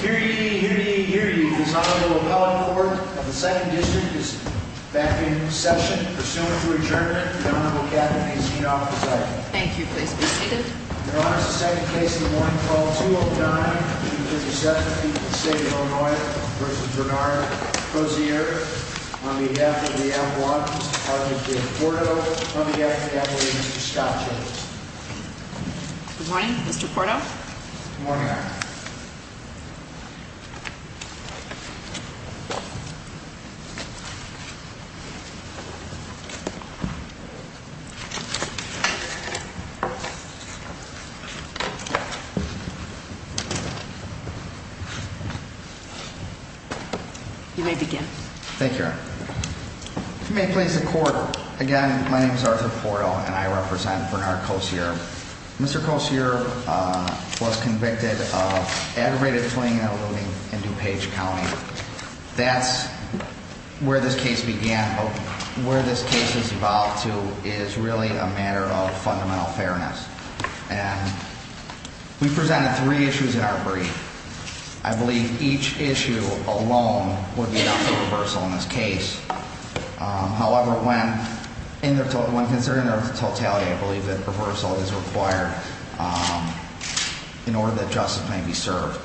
Hear ye, hear ye, hear ye. This Honorable Appellate Court of the 2nd District is back in session. Pursuant to adjournment, the Honorable Captain is not presiding. Thank you. Please be seated. In honor of the second case in the morning, Call 209-257, People's State of Illinois v. Bernard Kosierb on behalf of the Appalachians, Department of the Porto, on behalf of the Appalachians, Scott Jacobs. Good morning, Mr. Porto. Good morning, Honor. You may begin. Thank you, Honor. If you may please the court. Again, my name is Arthur Porto and I represent Bernard Kosierb. Mr. Kosierb was convicted of aggravated fleeing and eluding in DuPage County. That's where this case began. Where this case has evolved to is really a matter of fundamental fairness. We presented three issues in our brief. I believe each issue alone would lead to reversal in this case. However, when considering their totality, I believe that reversal is required in order that justice may be served.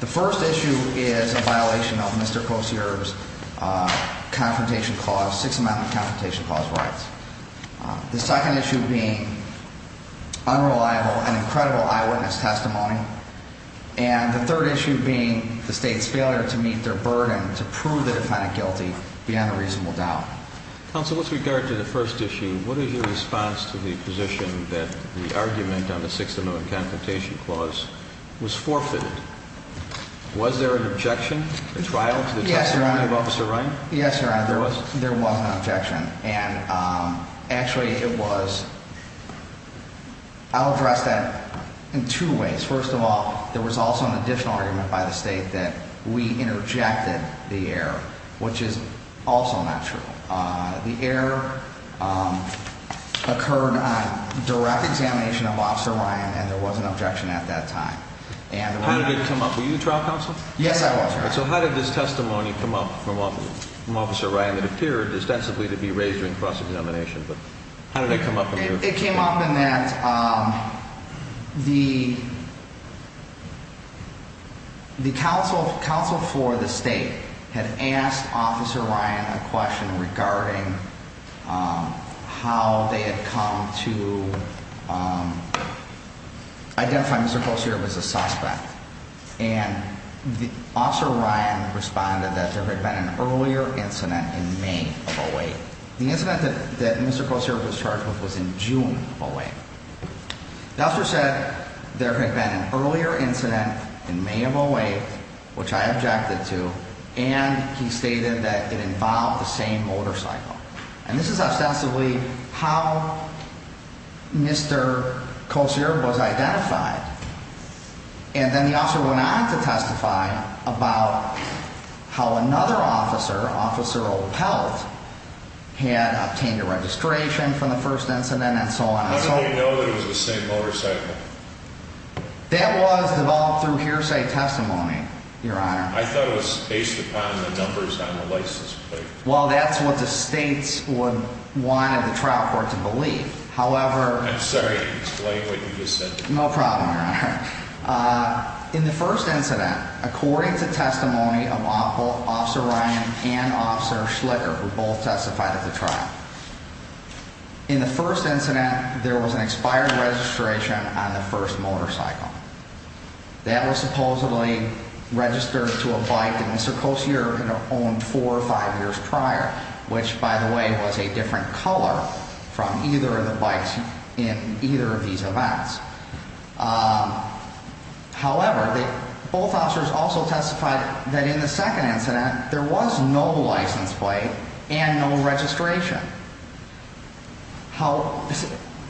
The first issue is a violation of Mr. Kosierb's six-amendment confrontation clause rights. The second issue being unreliable and incredible eyewitness testimony. And the third issue being the state's failure to meet their burden to prove the defendant guilty beyond a reasonable doubt. Counsel, with regard to the first issue, what is your response to the position that the argument on the six-amendment confrontation clause was forfeited? Was there an objection, a trial to the testimony of Officer Ryan? Yes, Your Honor. There was an objection. And actually it was, I'll address that in two ways. First of all, there was also an additional argument by the state that we interjected the error, which is also not true. The error occurred on direct examination of Officer Ryan, and there was an objection at that time. And- How did it come up? Were you trial counsel? Yes, I was, Your Honor. And so how did this testimony come up from Officer Ryan that appeared ostensibly to be raised during cross-examination? But how did it come up in your- It came up in that the counsel for the state had asked Officer Ryan a question regarding how they had come to identify Mr. Kocerev as a suspect. And Officer Ryan responded that there had been an earlier incident in May of 08. The incident that Mr. Kocerev was charged with was in June of 08. The officer said there had been an earlier incident in May of 08, which I objected to, and he stated that it involved the same motorcycle. And this is ostensibly how Mr. Kocerev was identified. And then the officer went on to testify about how another officer, Officer Opelt, had obtained a registration from the first incident and so on. How did they know that it was the same motorcycle? That was developed through hearsay testimony, Your Honor. I thought it was based upon the numbers on the license plate. Well, that's what the states would want the trial court to believe. However- I'm sorry. Explain what you just said. No problem, Your Honor. In the first incident, according to testimony of both Officer Ryan and Officer Schlicker, who both testified at the trial, in the first incident, there was an expired registration on the first motorcycle. That was supposedly registered to a bike that Mr. Kocerev had owned four or five years prior, which, by the way, was a different color from either of the bikes in either of these events. However, both officers also testified that in the second incident, there was no license plate and no registration.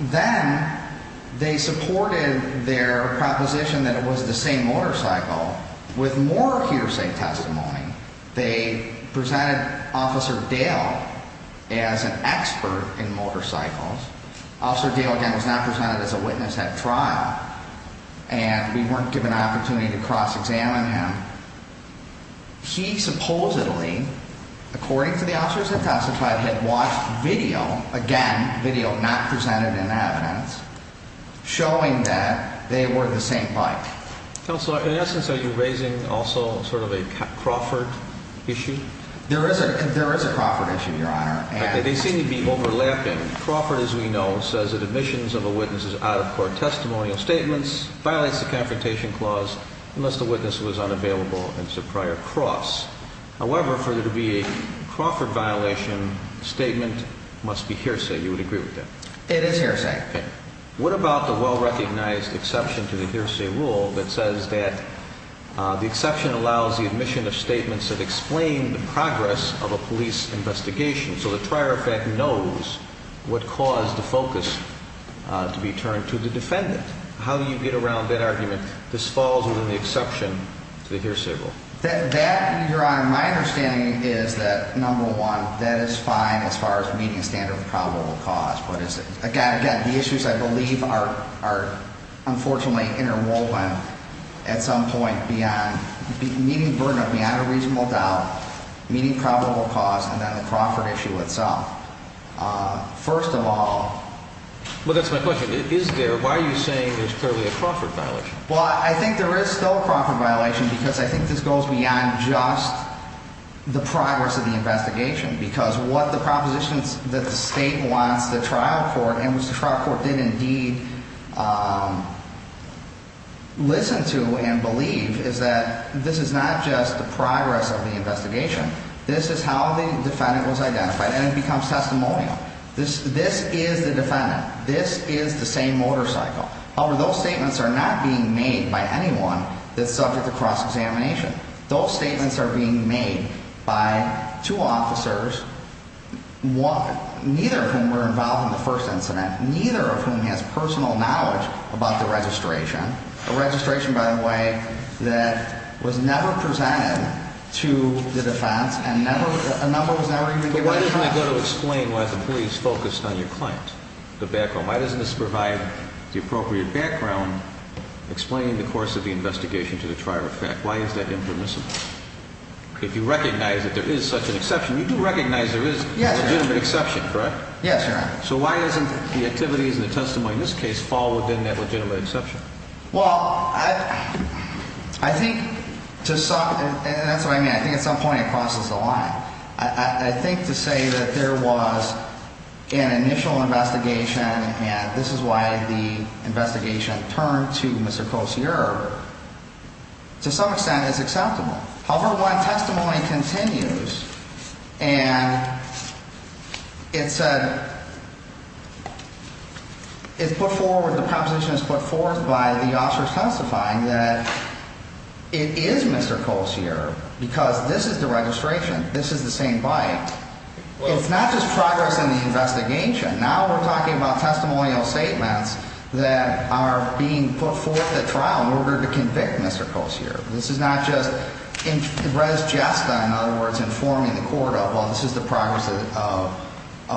Then they supported their proposition that it was the same motorcycle. With more hearsay testimony, they presented Officer Dale as an expert in motorcycles. Officer Dale, again, was not presented as a witness at trial, and we weren't given an opportunity to cross-examine him. He supposedly, according to the officers that testified, had watched video, again, video not presented in evidence, showing that they were the same bike. Counselor, in essence, are you raising also sort of a Crawford issue? There is a Crawford issue, Your Honor. Okay. They seem to be overlapping. Crawford, as we know, says that admissions of a witness's out-of-court testimonial statements violates the Confrontation Clause unless the witness was unavailable and is a prior cross. However, for there to be a Crawford violation, the statement must be hearsay. You would agree with that? It is hearsay. What about the well-recognized exception to the hearsay rule that says that the exception allows the admission of statements that explain the progress of a police investigation, so the prior effect knows what caused the focus to be turned to the defendant? How do you get around that argument? This falls within the exception to the hearsay rule. That, Your Honor, my understanding is that, number one, that is fine as far as meeting the standard of probable cause. But, again, the issues, I believe, are unfortunately interwoven at some point beyond meeting burden of beyond a reasonable doubt, meeting probable cause, and then the Crawford issue itself. First of all, Well, that's my question. Is there, why are you saying there's clearly a Crawford violation? Well, I think there is still a Crawford violation because I think this goes beyond just the progress of the investigation because what the propositions that the state wants the trial court, and which the trial court did indeed listen to and believe, is that this is not just the progress of the investigation. This is how the defendant was identified, and it becomes testimonial. This is the defendant. This is the same motorcycle. However, those statements are not being made by anyone that's subject to cross-examination. Those statements are being made by two officers, neither of whom were involved in the first incident, neither of whom has personal knowledge about the registration, a registration, by the way, that was never presented to the defense, and a number was never even given. But why doesn't it go to explain why the police focused on your client, the background? Why doesn't this provide the appropriate background explaining the course of the investigation to the trial effect? Why is that impermissible? If you recognize that there is such an exception, you do recognize there is a legitimate exception, correct? Yes, Your Honor. So why doesn't the activities and the testimony in this case fall within that legitimate exception? Well, I think to some, and that's what I mean, I think at some point it crosses the line. I think to say that there was an initial investigation and this is why the investigation turned to Mr. Colciere, to some extent it's acceptable. However, when testimony continues and it's put forward, the proposition is put forward by the officers testifying that it is Mr. Colciere because this is the registration, this is the same bite. It's not just progress in the investigation. Now we're talking about testimonial statements that are being put forth at trial in order to convict Mr. Colciere. This is not just res gesta, in other words, informing the court of, well, this is the progress of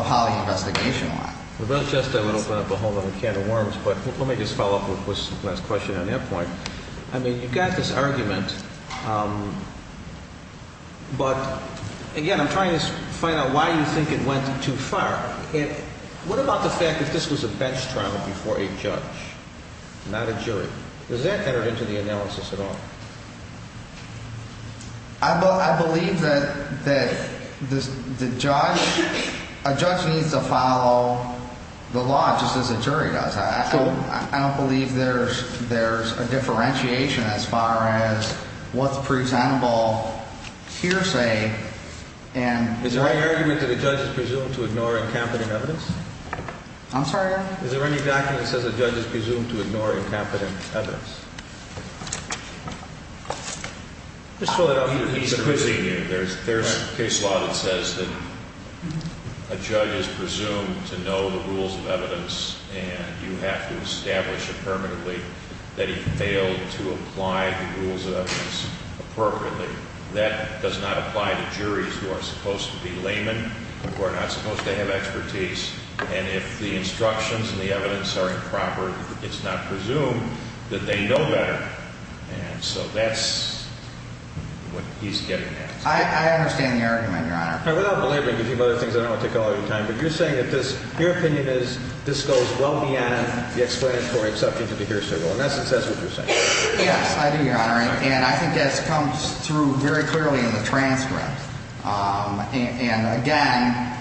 how the investigation went. The res gesta would open up a whole other can of worms, but let me just follow up with this last question on your point. I mean, you've got this argument, but again, I'm trying to find out why you think it went too far. What about the fact that this was a bench trial before a judge, not a jury? Was that entered into the analysis at all? I believe that the judge, a judge needs to follow the law just as a jury does. I don't believe there's there's a differentiation as far as what's presentable hearsay. And is there any argument that the judge is presumed to ignore incompetent evidence? I'm sorry. Is there any document that says the judge is presumed to ignore incompetent evidence? There's a case law that says that a judge is presumed to know the rules of evidence and you have to establish it permanently that he failed to apply the rules of evidence appropriately. That does not apply to juries who are supposed to be laymen, who are not supposed to have expertise. And if the instructions and the evidence are improper, it's not presumed that they know better. And so that's what he's getting at. I understand the argument, Your Honor. Without belaboring a few other things, I don't want to take all your time, but you're saying that this, your opinion is this goes well beyond the explanatory exception to the hearsay rule. In essence, that's what you're saying. Yes, I do, Your Honor. And I think that comes through very clearly in the transcript. And, again,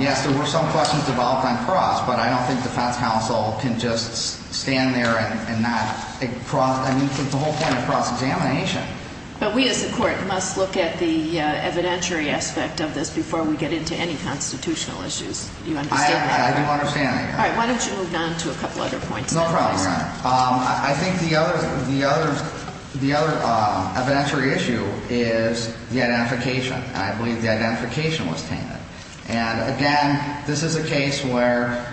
yes, there were some questions developed on cross, but I don't think defense counsel can just stand there and not cross, I mean, the whole point of cross-examination. But we as a court must look at the evidentiary aspect of this before we get into any constitutional issues. Do you understand that? I do understand that, yes. All right. Why don't you move on to a couple other points? No problem, Your Honor. I think the other evidentiary issue is the identification. And I believe the identification was tainted. And, again, this is a case where,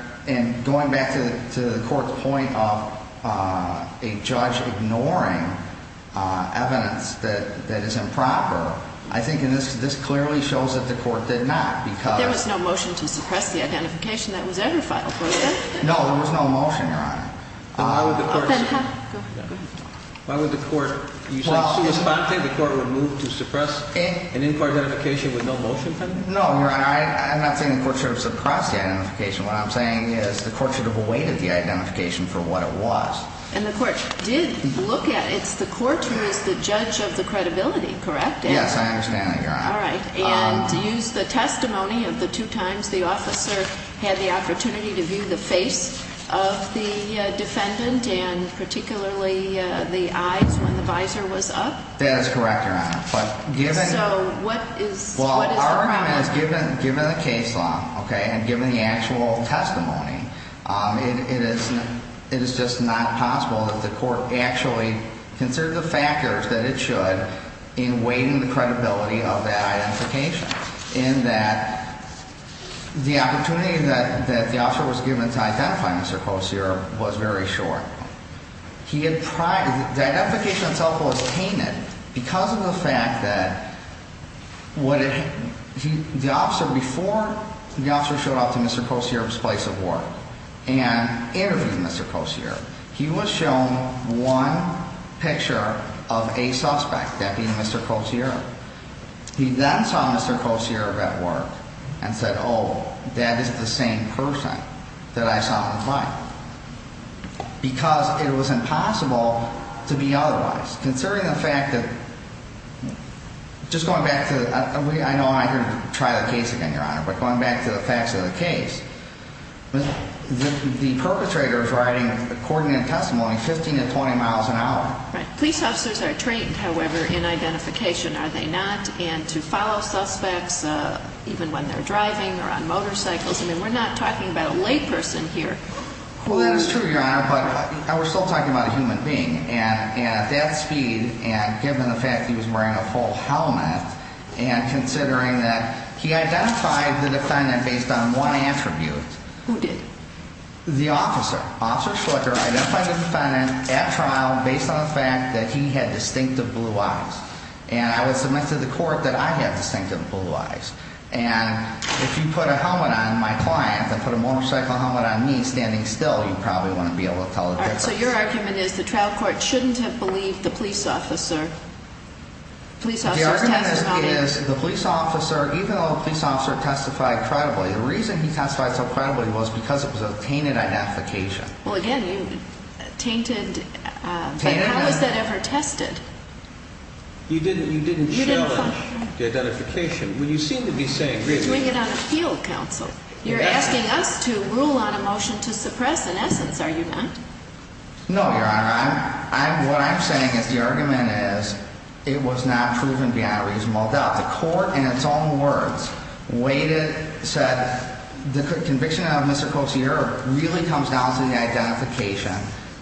going back to the court's point of a judge ignoring evidence that is improper, I think this clearly shows that the court did not. There was no motion to suppress the identification that was ever filed, was there? No, Your Honor. Then why would the court? Go ahead. Why would the court? You said, sui sponte, the court would move to suppress an in-court identification with no motion pending? No, Your Honor, I'm not saying the court should have suppressed the identification. What I'm saying is the court should have awaited the identification for what it was. And the court did look at it. It's the court who is the judge of the credibility, correct? Yes, I understand that, Your Honor. All right. And used the testimony of the two times the officer had the opportunity to view the face of the defendant and particularly the eyes when the visor was up? That is correct, Your Honor. So what is the problem? In that the opportunity that the officer was given to identify Mr. Kosior was very short. The identification itself was tainted because of the fact that the officer, before the officer showed up to Mr. Kosior's place of work and interviewed Mr. Kosior, he was shown one picture of a suspect, that being Mr. Kosior. He then saw Mr. Kosior at work and said, oh, that is the same person that I saw on the flight. Because it was impossible to be otherwise. Considering the fact that, just going back to, I know I'm not here to try the case again, Your Honor, but going back to the facts of the case, the perpetrator is riding, according to the testimony, 15 to 20 miles an hour. Right. Police officers are trained, however, in identification, are they not? And to follow suspects, even when they're driving or on motorcycles? I mean, we're not talking about a layperson here. Well, that is true, Your Honor, but we're still talking about a human being. And at that speed, and given the fact he was wearing a full helmet, and considering that he identified the defendant based on one attribute. Who did? The officer. Officer Schlicker identified the defendant at trial based on the fact that he had distinctive blue eyes. And I would submit to the court that I had distinctive blue eyes. And if you put a helmet on my client and put a motorcycle helmet on me standing still, you probably wouldn't be able to tell the difference. All right. So your argument is the trial court shouldn't have believed the police officer. The argument is the police officer, even though the police officer testified credibly, the reason he testified so credibly was because it was a tainted identification. Well, again, you tainted. But how was that ever tested? You didn't challenge the identification. Well, you seem to be saying, really. You're doing it on appeal, counsel. You're asking us to rule on a motion to suppress, in essence, are you not? No, Your Honor. What I'm saying is the argument is it was not proven beyond a reasonable doubt. The court, in its own words, said the conviction of Mr. Cotier really comes down to the identification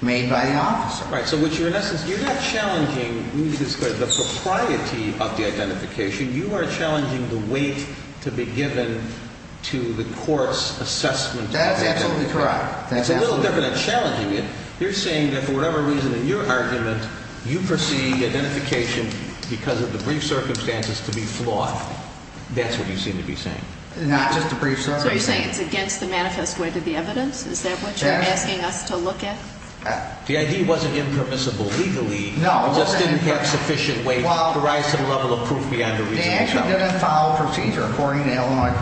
made by the officer. All right. So what you're, in essence, you're not challenging the propriety of the identification. You are challenging the weight to be given to the court's assessment. That's absolutely correct. That's a little different than challenging it. You're saying that for whatever reason in your argument, you perceive the identification because of the brief circumstances to be flawed. That's what you seem to be saying. Not just the brief circumstances. So you're saying it's against the manifest way to the evidence? Is that what you're asking us to look at? The ID wasn't impermissible legally. No, it wasn't. It just didn't have sufficient weight to provide some level of proof beyond a reasonable doubt. It didn't follow procedure according to Illinois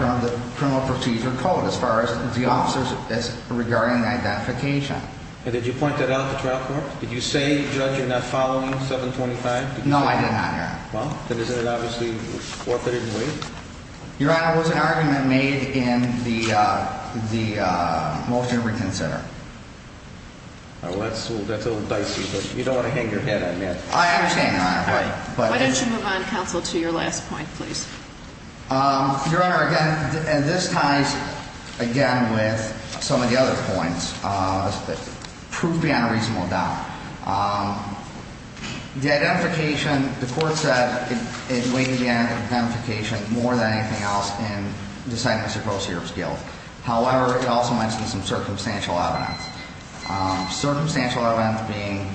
criminal procedure code as far as the officers regarding identification. And did you point that out to trial court? Did you say, Judge, you're not following 725? No, I did not, Your Honor. Well, then isn't it obviously authoritative weight? Your Honor, it was an argument made in the motion to reconsider. All right. Well, that's a little dicey, but you don't want to hang your head on that. I understand, Your Honor. Why don't you move on, counsel, to your last point, please? Your Honor, again, this ties, again, with some of the other points. Proof beyond a reasonable doubt. The identification, the court said it weighed the identification more than anything else in deciding Mr. Kroshear's guilt. However, it also mentioned some circumstantial evidence. Circumstantial evidence being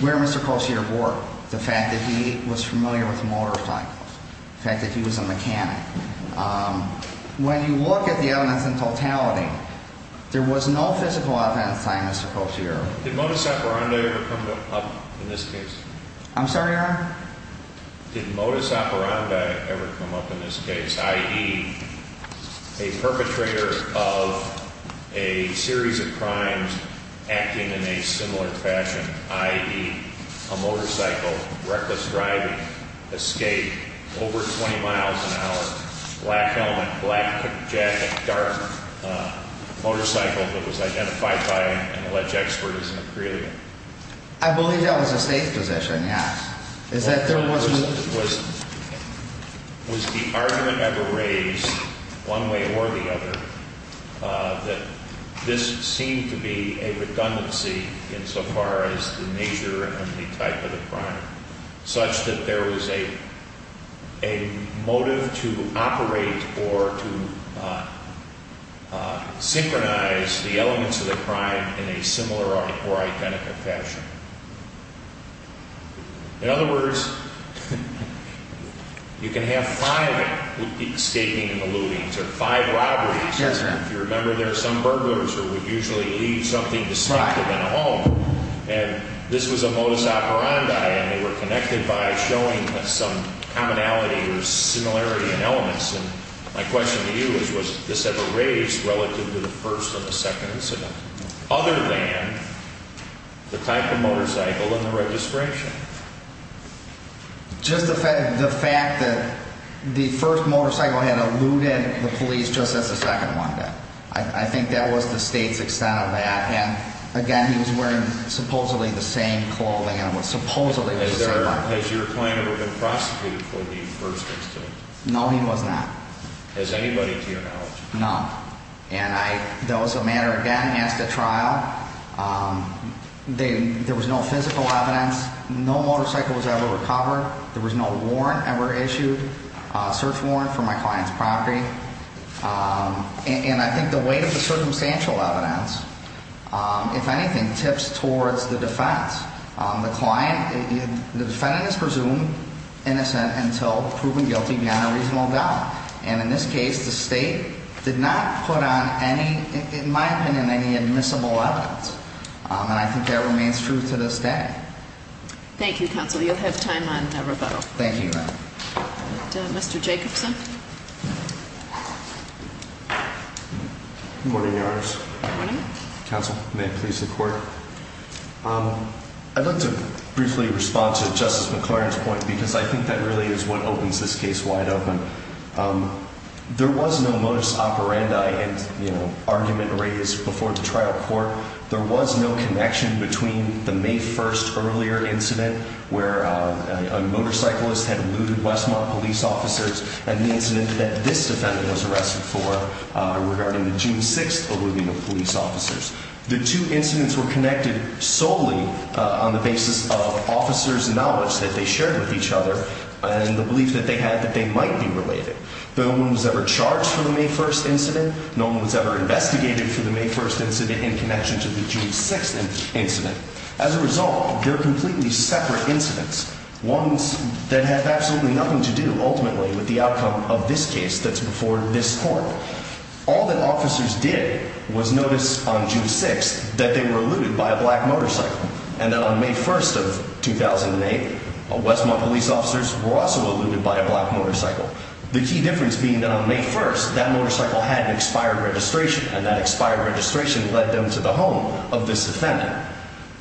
where Mr. Kroshear worked, the fact that he was familiar with motorcycles, the fact that he was a mechanic. When you look at the evidence in totality, there was no physical offense by Mr. Kroshear. Did modus operandi ever come up in this case? I'm sorry, Your Honor? Did modus operandi ever come up in this case, i.e., a perpetrator of a series of crimes acting in a similar fashion, i.e., a motorcycle, reckless driving, escape, over 20 miles an hour, black helmet, black jacket, dark motorcycle that was identified by an alleged expert as an Aprilia? I believe that was a safe position, yes. Was the argument ever raised, one way or the other, that this seemed to be a redundancy insofar as the nature and the type of the crime, such that there was a motive to operate or to synchronize the elements of the crime in a similar or identical fashion? In other words, you can have five escaping and eluding or five robberies. Yes, Your Honor. If you remember, there are some burglars who would usually leave something distinctive in a home. And this was a modus operandi, and they were connected by showing some commonality or similarity in elements. And my question to you is, was this ever raised relative to the first or the second incident, other than the type of motorcycle and the registration? Just the fact that the first motorcycle had eluded the police just as the second one did. I think that was the State's extent of that. And, again, he was wearing supposedly the same clothing and it was supposedly the same bike. Has your client ever been prosecuted for the first incident? No, he was not. Has anybody to your knowledge? No. And that was a matter, again, he has to trial. There was no physical evidence. No motorcycle was ever recovered. There was no warrant ever issued, search warrant, for my client's property. And I think the weight of the circumstantial evidence, if anything, tips towards the defense. The client, the defendant is presumed innocent until proven guilty beyond a reasonable doubt. And in this case, the State did not put on any, in my opinion, any admissible evidence. And I think that remains true to this day. Thank you, Counsel. You'll have time on a rebuttal. Thank you. Mr. Jacobson. Good morning, Your Honors. Good morning. Counsel, may it please the Court. I'd like to briefly respond to Justice McClaren's point because I think that really is what opens this case wide open. There was no modus operandi and, you know, argument raised before the trial court. There was no connection between the May 1st earlier incident where a motorcyclist had looted Westmont police officers and the incident that this defendant was arrested for regarding the June 6th eluding of police officers. The two incidents were connected solely on the basis of officers' knowledge that they shared with each other and the belief that they had that they might be related. No one was ever charged for the May 1st incident. No one was ever investigated for the May 1st incident in connection to the June 6th incident. As a result, they're completely separate incidents, ones that have absolutely nothing to do, ultimately, with the outcome of this case that's before this Court. All that officers did was notice on June 6th that they were eluded by a black motorcycle and that on May 1st of 2008, Westmont police officers were also eluded by a black motorcycle. The key difference being that on May 1st, that motorcycle had an expired registration and that expired registration led them to the home of this defendant.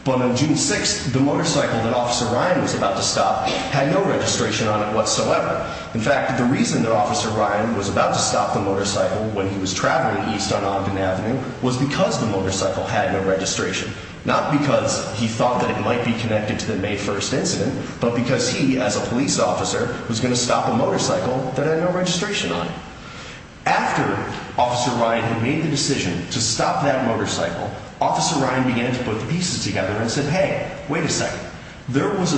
But on June 6th, the motorcycle that Officer Ryan was about to stop had no registration on it whatsoever. In fact, the reason that Officer Ryan was about to stop the motorcycle when he was traveling east on Ogden Avenue was because the motorcycle had no registration. Not because he thought that it might be connected to the May 1st incident, but because he, as a police officer, was going to stop a motorcycle that had no registration on it. After Officer Ryan had made the decision to stop that motorcycle, Officer Ryan began to put the pieces together and said, Hey, wait a second. There was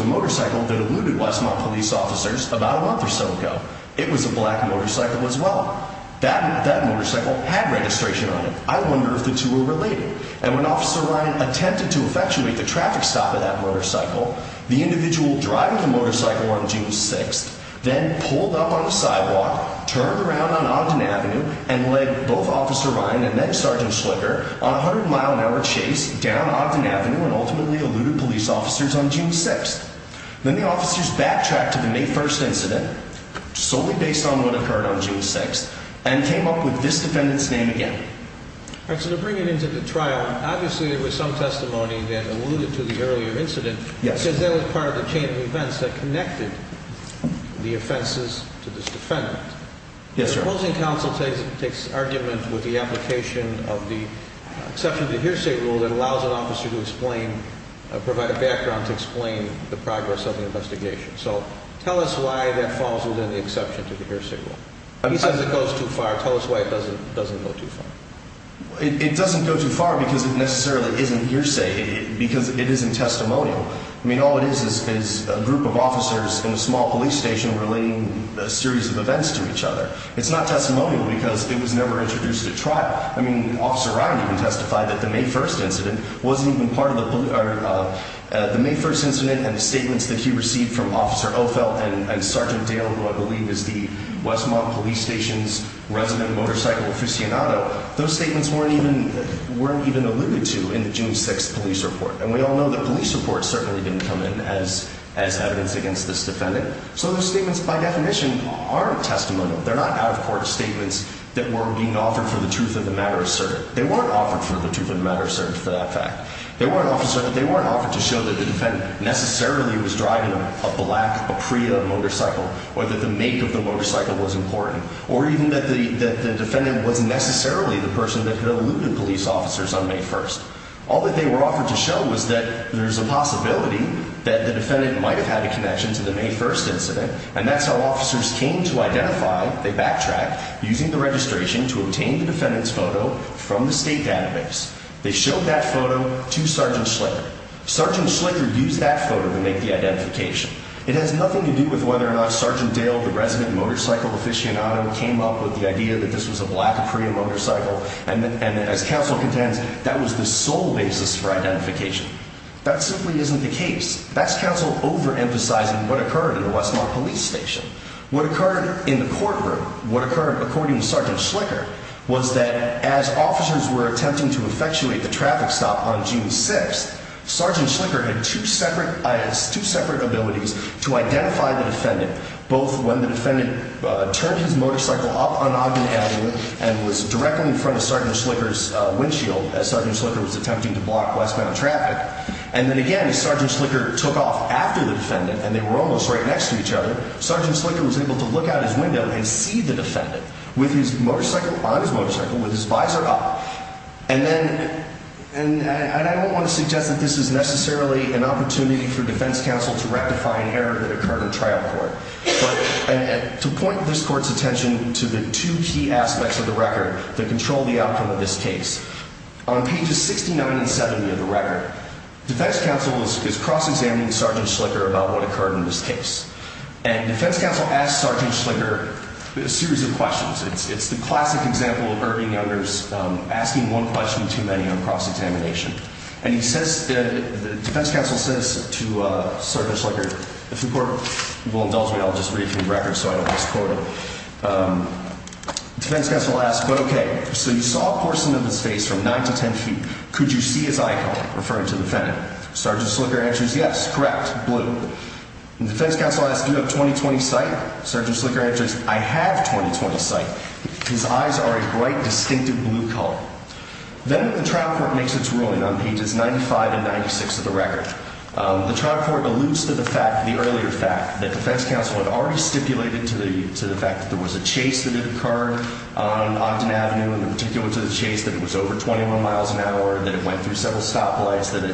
a motorcycle that eluded Westmont police officers about a month or so ago. It was a black motorcycle as well. That motorcycle had registration on it. I wonder if the two are related. And when Officer Ryan attempted to effectuate the traffic stop of that motorcycle, the individual driving the motorcycle on June 6th then pulled up on the sidewalk, turned around on Ogden Avenue and led both Officer Ryan and then Sergeant Schlicker on a 100-mile-an-hour chase down Ogden Avenue and ultimately eluded police officers on June 6th. Then the officers backtracked to the May 1st incident, solely based on what occurred on June 6th, and came up with this defendant's name again. To bring it into the trial, obviously there was some testimony that alluded to the earlier incident because that was part of the chain of events that connected the offenses to this defendant. The opposing counsel takes argument with the application of the exception to the hearsay rule that allows an officer to provide a background to explain the progress of the investigation. So tell us why that falls within the exception to the hearsay rule. He says it goes too far. Tell us why it doesn't go too far. It doesn't go too far because it necessarily isn't hearsay, because it isn't testimonial. I mean, all it is is a group of officers in a small police station relating a series of events to each other. It's not testimonial because it was never introduced at trial. I mean, Officer Ryan even testified that the May 1st incident wasn't even part of the police – the May 1st incident and the statements that he received from Officer Ophel and Sergeant Dale, who I believe is the Westmont Police Station's resident motorcycle aficionado, those statements weren't even alluded to in the June 6th police report. And we all know the police report certainly didn't come in as evidence against this defendant. So the statements, by definition, aren't testimonial. They're not out-of-court statements that were being offered for the truth of the matter asserted. They weren't offered for the truth of the matter asserted for that fact. They weren't offered to show that the defendant necessarily was driving a black Apria motorcycle or that the make of the motorcycle was important, or even that the defendant was necessarily the person that had eluded police officers on May 1st. All that they were offered to show was that there's a possibility that the defendant might have had a connection to the May 1st incident, and that's how officers came to identify – they backtracked – using the registration to obtain the defendant's photo from the state database. They showed that photo to Sergeant Schlicker. Sergeant Schlicker used that photo to make the identification. It has nothing to do with whether or not Sergeant Dale, the resident motorcycle aficionado, came up with the idea that this was a black Apria motorcycle, and as counsel contends, that was the sole basis for identification. That simply isn't the case. That's counsel overemphasizing what occurred in the Westmont Police Station. What occurred in the courtroom, what occurred according to Sergeant Schlicker, was that as officers were attempting to effectuate the traffic stop on June 6th, Sergeant Schlicker had two separate abilities to identify the defendant, both when the defendant turned his motorcycle up on Ogden Avenue and was directly in front of Sergeant Schlicker's windshield as Sergeant Schlicker was attempting to block westbound traffic. And then again, as Sergeant Schlicker took off after the defendant, and they were almost right next to each other, Sergeant Schlicker was able to look out his window and see the defendant on his motorcycle with his visor up. And I don't want to suggest that this is necessarily an opportunity for defense counsel to rectify an error that occurred in trial court. To point this court's attention to the two key aspects of the record that control the outcome of this case, on pages 69 and 70 of the record, defense counsel is cross-examining Sergeant Schlicker about what occurred in this case. And defense counsel asks Sergeant Schlicker a series of questions. It's the classic example of Irving Younger's asking one question too many on cross-examination. And defense counsel says to Sergeant Schlicker, if the court will indulge me, I'll just read a few records so I don't misquote it. Defense counsel asks, but okay, so you saw a portion of his face from 9 to 10 feet. Could you see his eye color? Referring to the defendant. Sergeant Schlicker answers, yes, correct, blue. And defense counsel asks, do you have 20-20 sight? Sergeant Schlicker answers, I have 20-20 sight. His eyes are a bright, distinctive blue color. Then the trial court makes its ruling on pages 95 and 96 of the record. The trial court alludes to the fact, the earlier fact, that defense counsel had already stipulated to the fact that there was a chase that had occurred on Ogden Avenue, in particular to the chase, that it was over 21 miles an hour, that it went through several stoplights, that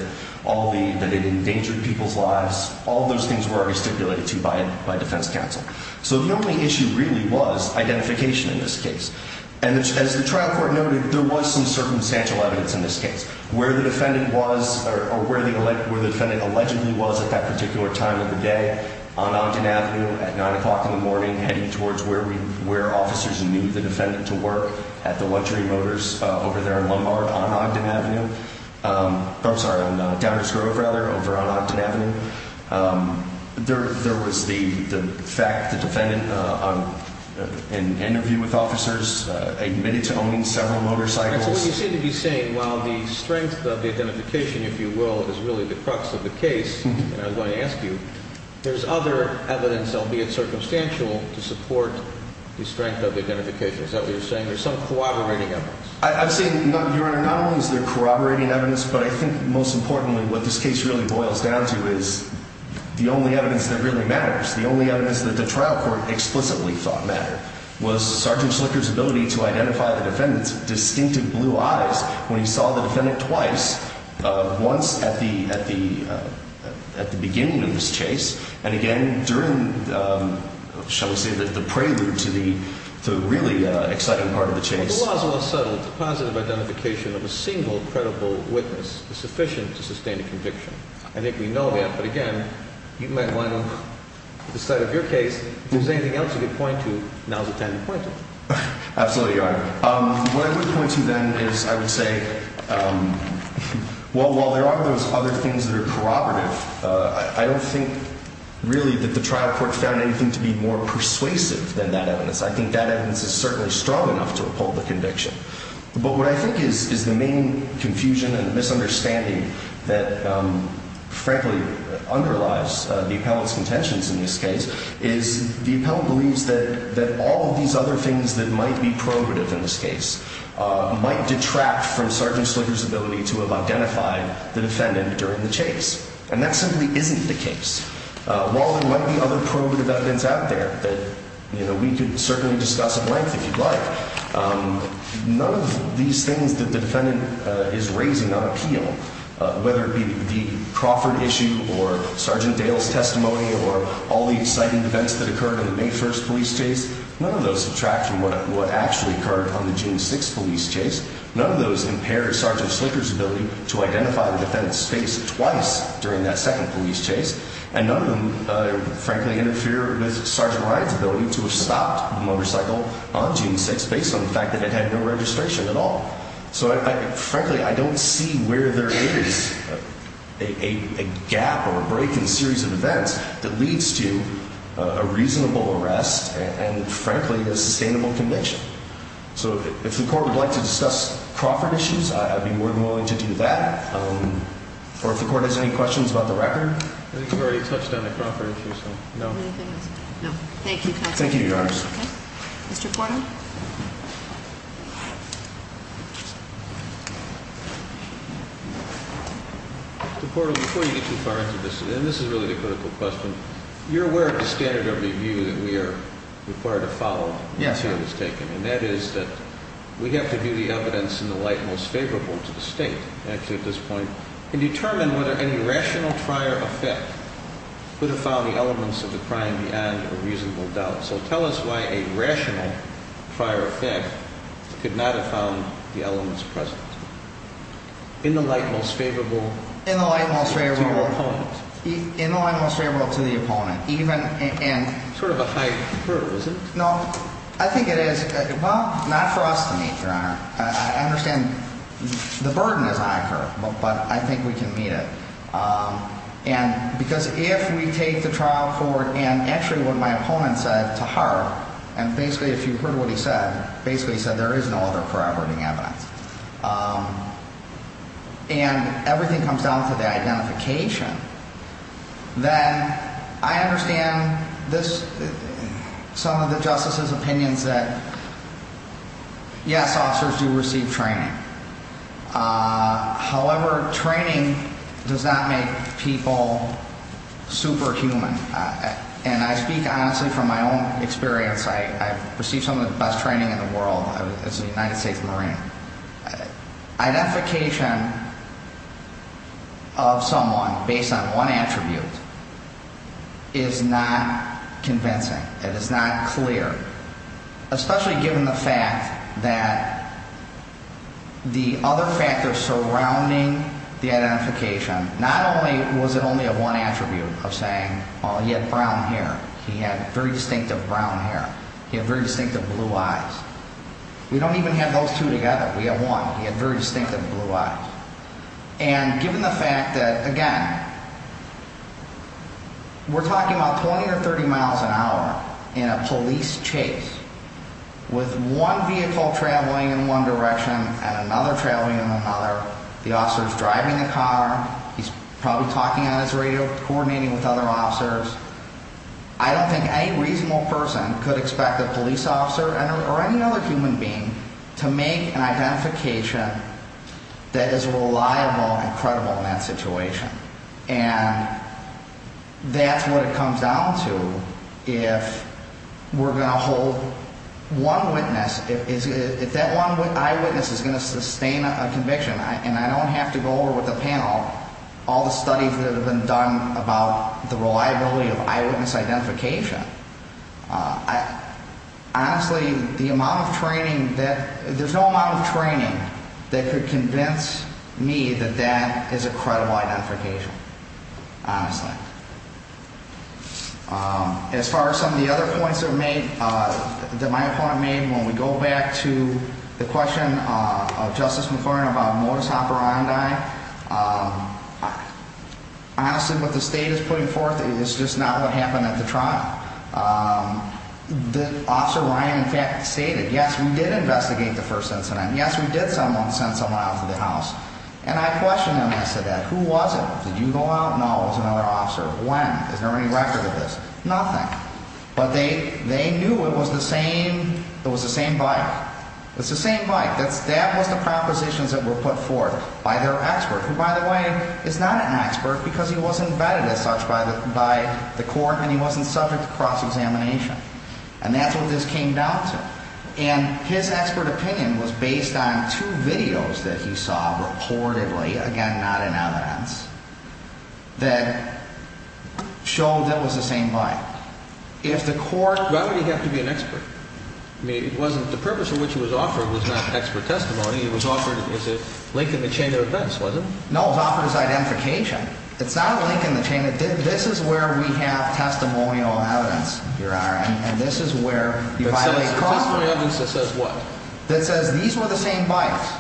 it endangered people's lives. All of those things were already stipulated to by defense counsel. So the only issue really was identification in this case. And as the trial court noted, there was some circumstantial evidence in this case. Where the defendant was, or where the defendant allegedly was at that particular time of the day, on Ogden Avenue at 9 o'clock in the morning, heading towards where officers knew the defendant to work, at the luxury motors over there in Lombard on Ogden Avenue. I'm sorry, on Downers Grove, rather, over on Ogden Avenue. There was the fact that the defendant, in an interview with officers, admitted to owning several motorcycles. All right, so what you seem to be saying, while the strength of the identification, if you will, is really the crux of the case, and I was going to ask you, there's other evidence, albeit circumstantial, to support the strength of the identification. Is that what you're saying? There's some corroborating evidence? I'm saying, Your Honor, not only is there corroborating evidence, but I think, most importantly, what this case really boils down to is the only evidence that really matters, the only evidence that the trial court explicitly thought mattered, was Sergeant Slicker's ability to identify the defendant's distinctive blue eyes when he saw the defendant twice, once at the beginning of his chase, and again during, shall we say, the prelude to the really exciting part of the chase. If the law is well settled, the positive identification of a single credible witness is sufficient to sustain a conviction. I think we know that, but again, you might want to decide if your case, if there's anything else you could point to, now's the time to point to it. Absolutely, Your Honor. What I would point to, then, is I would say, well, while there are those other things that are corroborative, I don't think, really, that the trial court found anything to be more persuasive than that evidence. I think that evidence is certainly strong enough to uphold the conviction. But what I think is the main confusion and misunderstanding that, frankly, underlies the appellant's contentions in this case, is the appellant believes that all of these other things that might be corroborative in this case might detract from Sergeant Slicker's ability to have identified the defendant during the chase. And that simply isn't the case. While there might be other corroborative evidence out there that we could certainly discuss at length if you'd like, none of these things that the defendant is raising on appeal, whether it be the Crawford issue or Sergeant Dale's testimony or all the exciting events that occurred in the May 1st police chase, none of those detract from what actually occurred on the June 6th police chase. None of those impair Sergeant Slicker's ability to identify the defendant's face twice during that second police chase. And none of them, frankly, interfere with Sergeant Ryan's ability to have stopped the motorcycle on June 6th based on the fact that it had no registration at all. So, frankly, I don't see where there is a gap or a break in a series of events that leads to a reasonable arrest and, frankly, a sustainable conviction. So if the court would like to discuss Crawford issues, I'd be more than willing to do that. Or if the court has any questions about the record. I think you've already touched on the Crawford issue, so no. No. Thank you, counsel. Thank you, Your Honor. Okay. Mr. Portal? Mr. Portal, before you get too far into this, and this is really the critical question, you're aware of the standard of review that we are required to follow until it's taken. Yes, Your Honor. And that is that we have to do the evidence in the light most favorable to the State, actually at this point, and determine whether any rational prior effect could have found the elements of the crime beyond a reasonable doubt. So tell us why a rational prior effect could not have found the elements present. In the light most favorable... In the light most favorable... Sort of a hyper, is it? No. I think it is. Well, not for us to meet, Your Honor. I understand the burden is accurate, but I think we can meet it. And because if we take the trial forward, and actually what my opponent said to her, and basically if you heard what he said, basically he said there is no other prior wording evidence. And everything comes down to the identification. Then I understand some of the Justice's opinions that, yes, officers do receive training. However, training does not make people superhuman. And I speak honestly from my own experience. I've received some of the best training in the world as a United States Marine. Identification of someone based on one attribute is not convincing. It is not clear, especially given the fact that the other factors surrounding the identification, not only was it only a one attribute of saying, well, he had brown hair. He had very distinctive brown hair. He had very distinctive blue eyes. We don't even have those two together. We have one. He had very distinctive blue eyes. And given the fact that, again, we're talking about 20 or 30 miles an hour in a police chase, with one vehicle traveling in one direction and another traveling in another, the officer is driving the car. He's probably talking on his radio, coordinating with other officers. I don't think any reasonable person could expect a police officer or any other human being to make an identification that is reliable and credible in that situation. And that's what it comes down to if we're going to hold one witness. If that one eyewitness is going to sustain a conviction, and I don't have to go over with the panel all the studies that have been done about the reliability of eyewitness identification, honestly, the amount of training that ‑‑ there's no amount of training that could convince me that that is a credible identification, honestly. As far as some of the other points that my opponent made, when we go back to the question of Justice McCorrin about modus operandi, honestly, what the state is putting forth is just not what happened at the trial. Officer Ryan, in fact, stated, yes, we did investigate the first incident. Yes, we did send someone out to the house. And I questioned him. I said, who was it? Did you go out? He said, no, it was another officer. When? Is there any record of this? Nothing. But they knew it was the same bike. It's the same bike. That was the propositions that were put forth by their expert, who, by the way, is not an expert because he wasn't vetted as such by the court and he wasn't subject to cross‑examination. And that's what this came down to. And his expert opinion was based on two videos that he saw reportedly, again, not in evidence, that showed it was the same bike. Why would he have to be an expert? I mean, the purpose of which it was offered was not expert testimony. It was offered as a link in the chain of events, wasn't it? No, it was offered as identification. It's not a link in the chain. This is where we have testimonial evidence, Your Honor, and this is where you violate cross‑examination. Testimonial evidence that says what? That says these were the same bikes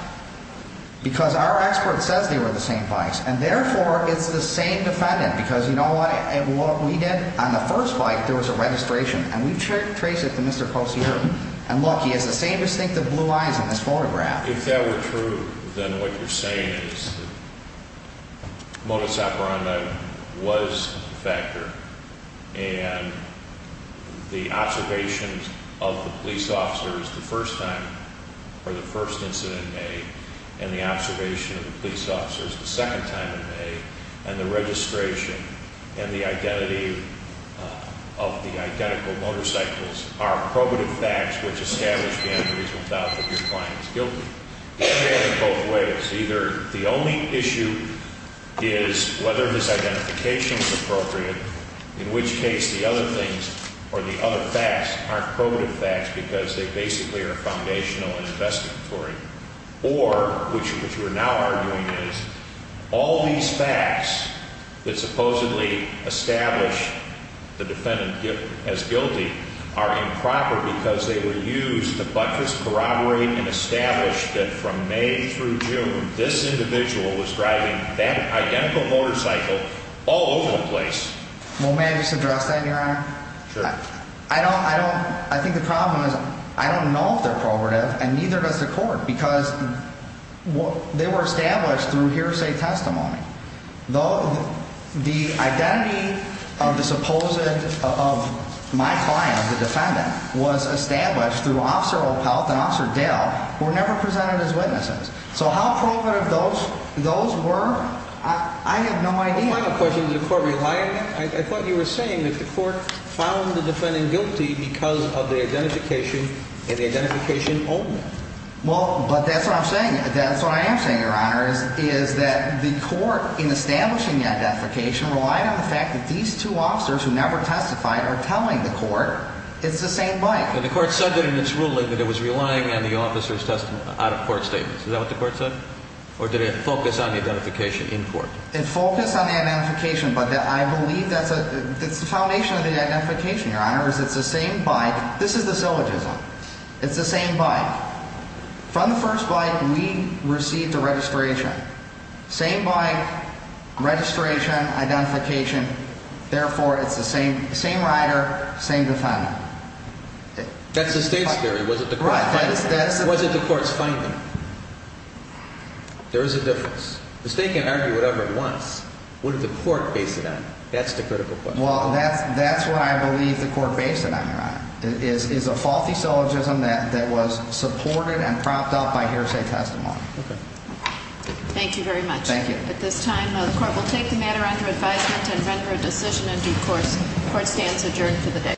because our expert says they were the same bikes. And, therefore, it's the same defendant because, you know what, what we did on the first bike, there was a registration, and we traced it to Mr. Cosier. And, look, he has the same distinctive blue eyes in this photograph. If that were true, then what you're saying is that was the factor, and the observations of the police officers the first time or the first incident in May and the observation of the police officers the second time in May and the registration and the identity of the identical motorcycles are probative facts which establish the evidence without the viewpoint of guilt. And they have it both ways. Either the only issue is whether this identification is appropriate, in which case the other things or the other facts aren't probative facts because they basically are foundational and investigatory, or, which we're now arguing is, all these facts that supposedly establish the defendant as guilty are improper because they were used to buttress, corroborate, and establish that from May through June, this individual was driving that identical motorcycle all over the place. Well, may I just address that, Your Honor? Sure. I don't, I don't, I think the problem is I don't know if they're probative, and neither does the court because they were established through hearsay testimony. The identity of the supposed, of my client, the defendant, was established through Officer Opelt and Officer Dell, were never presented as witnesses. So how probative those, those were, I have no idea. One final question. Did the court rely on that? I thought you were saying that the court found the defendant guilty because of the identification and the identification only. Well, but that's what I'm saying. That's what I am saying, Your Honor, is that the court, in establishing the identification, relied on the fact that these two officers who never testified are telling the court it's the same bike. But the court said that in its ruling that it was relying on the officer's testimony, out of court statements. Is that what the court said? Or did it focus on the identification in court? It focused on the identification, but I believe that's a, that's the foundation of the identification, Your Honor, is it's the same bike. This is the syllogism. It's the same bike. From the first bike, we received the registration. Same bike, registration, identification. Therefore, it's the same rider, same defendant. That's the state's theory. Was it the court's finding? There is a difference. The state can argue whatever it wants. What did the court base it on? That's the critical question. Well, that's what I believe the court based it on, Your Honor, is a faulty syllogism that was supported and propped up by hearsay testimony. Okay. Thank you very much. Thank you. At this time, the court will take the matter under advisement and render a decision in due course. Court stands adjourned for the day.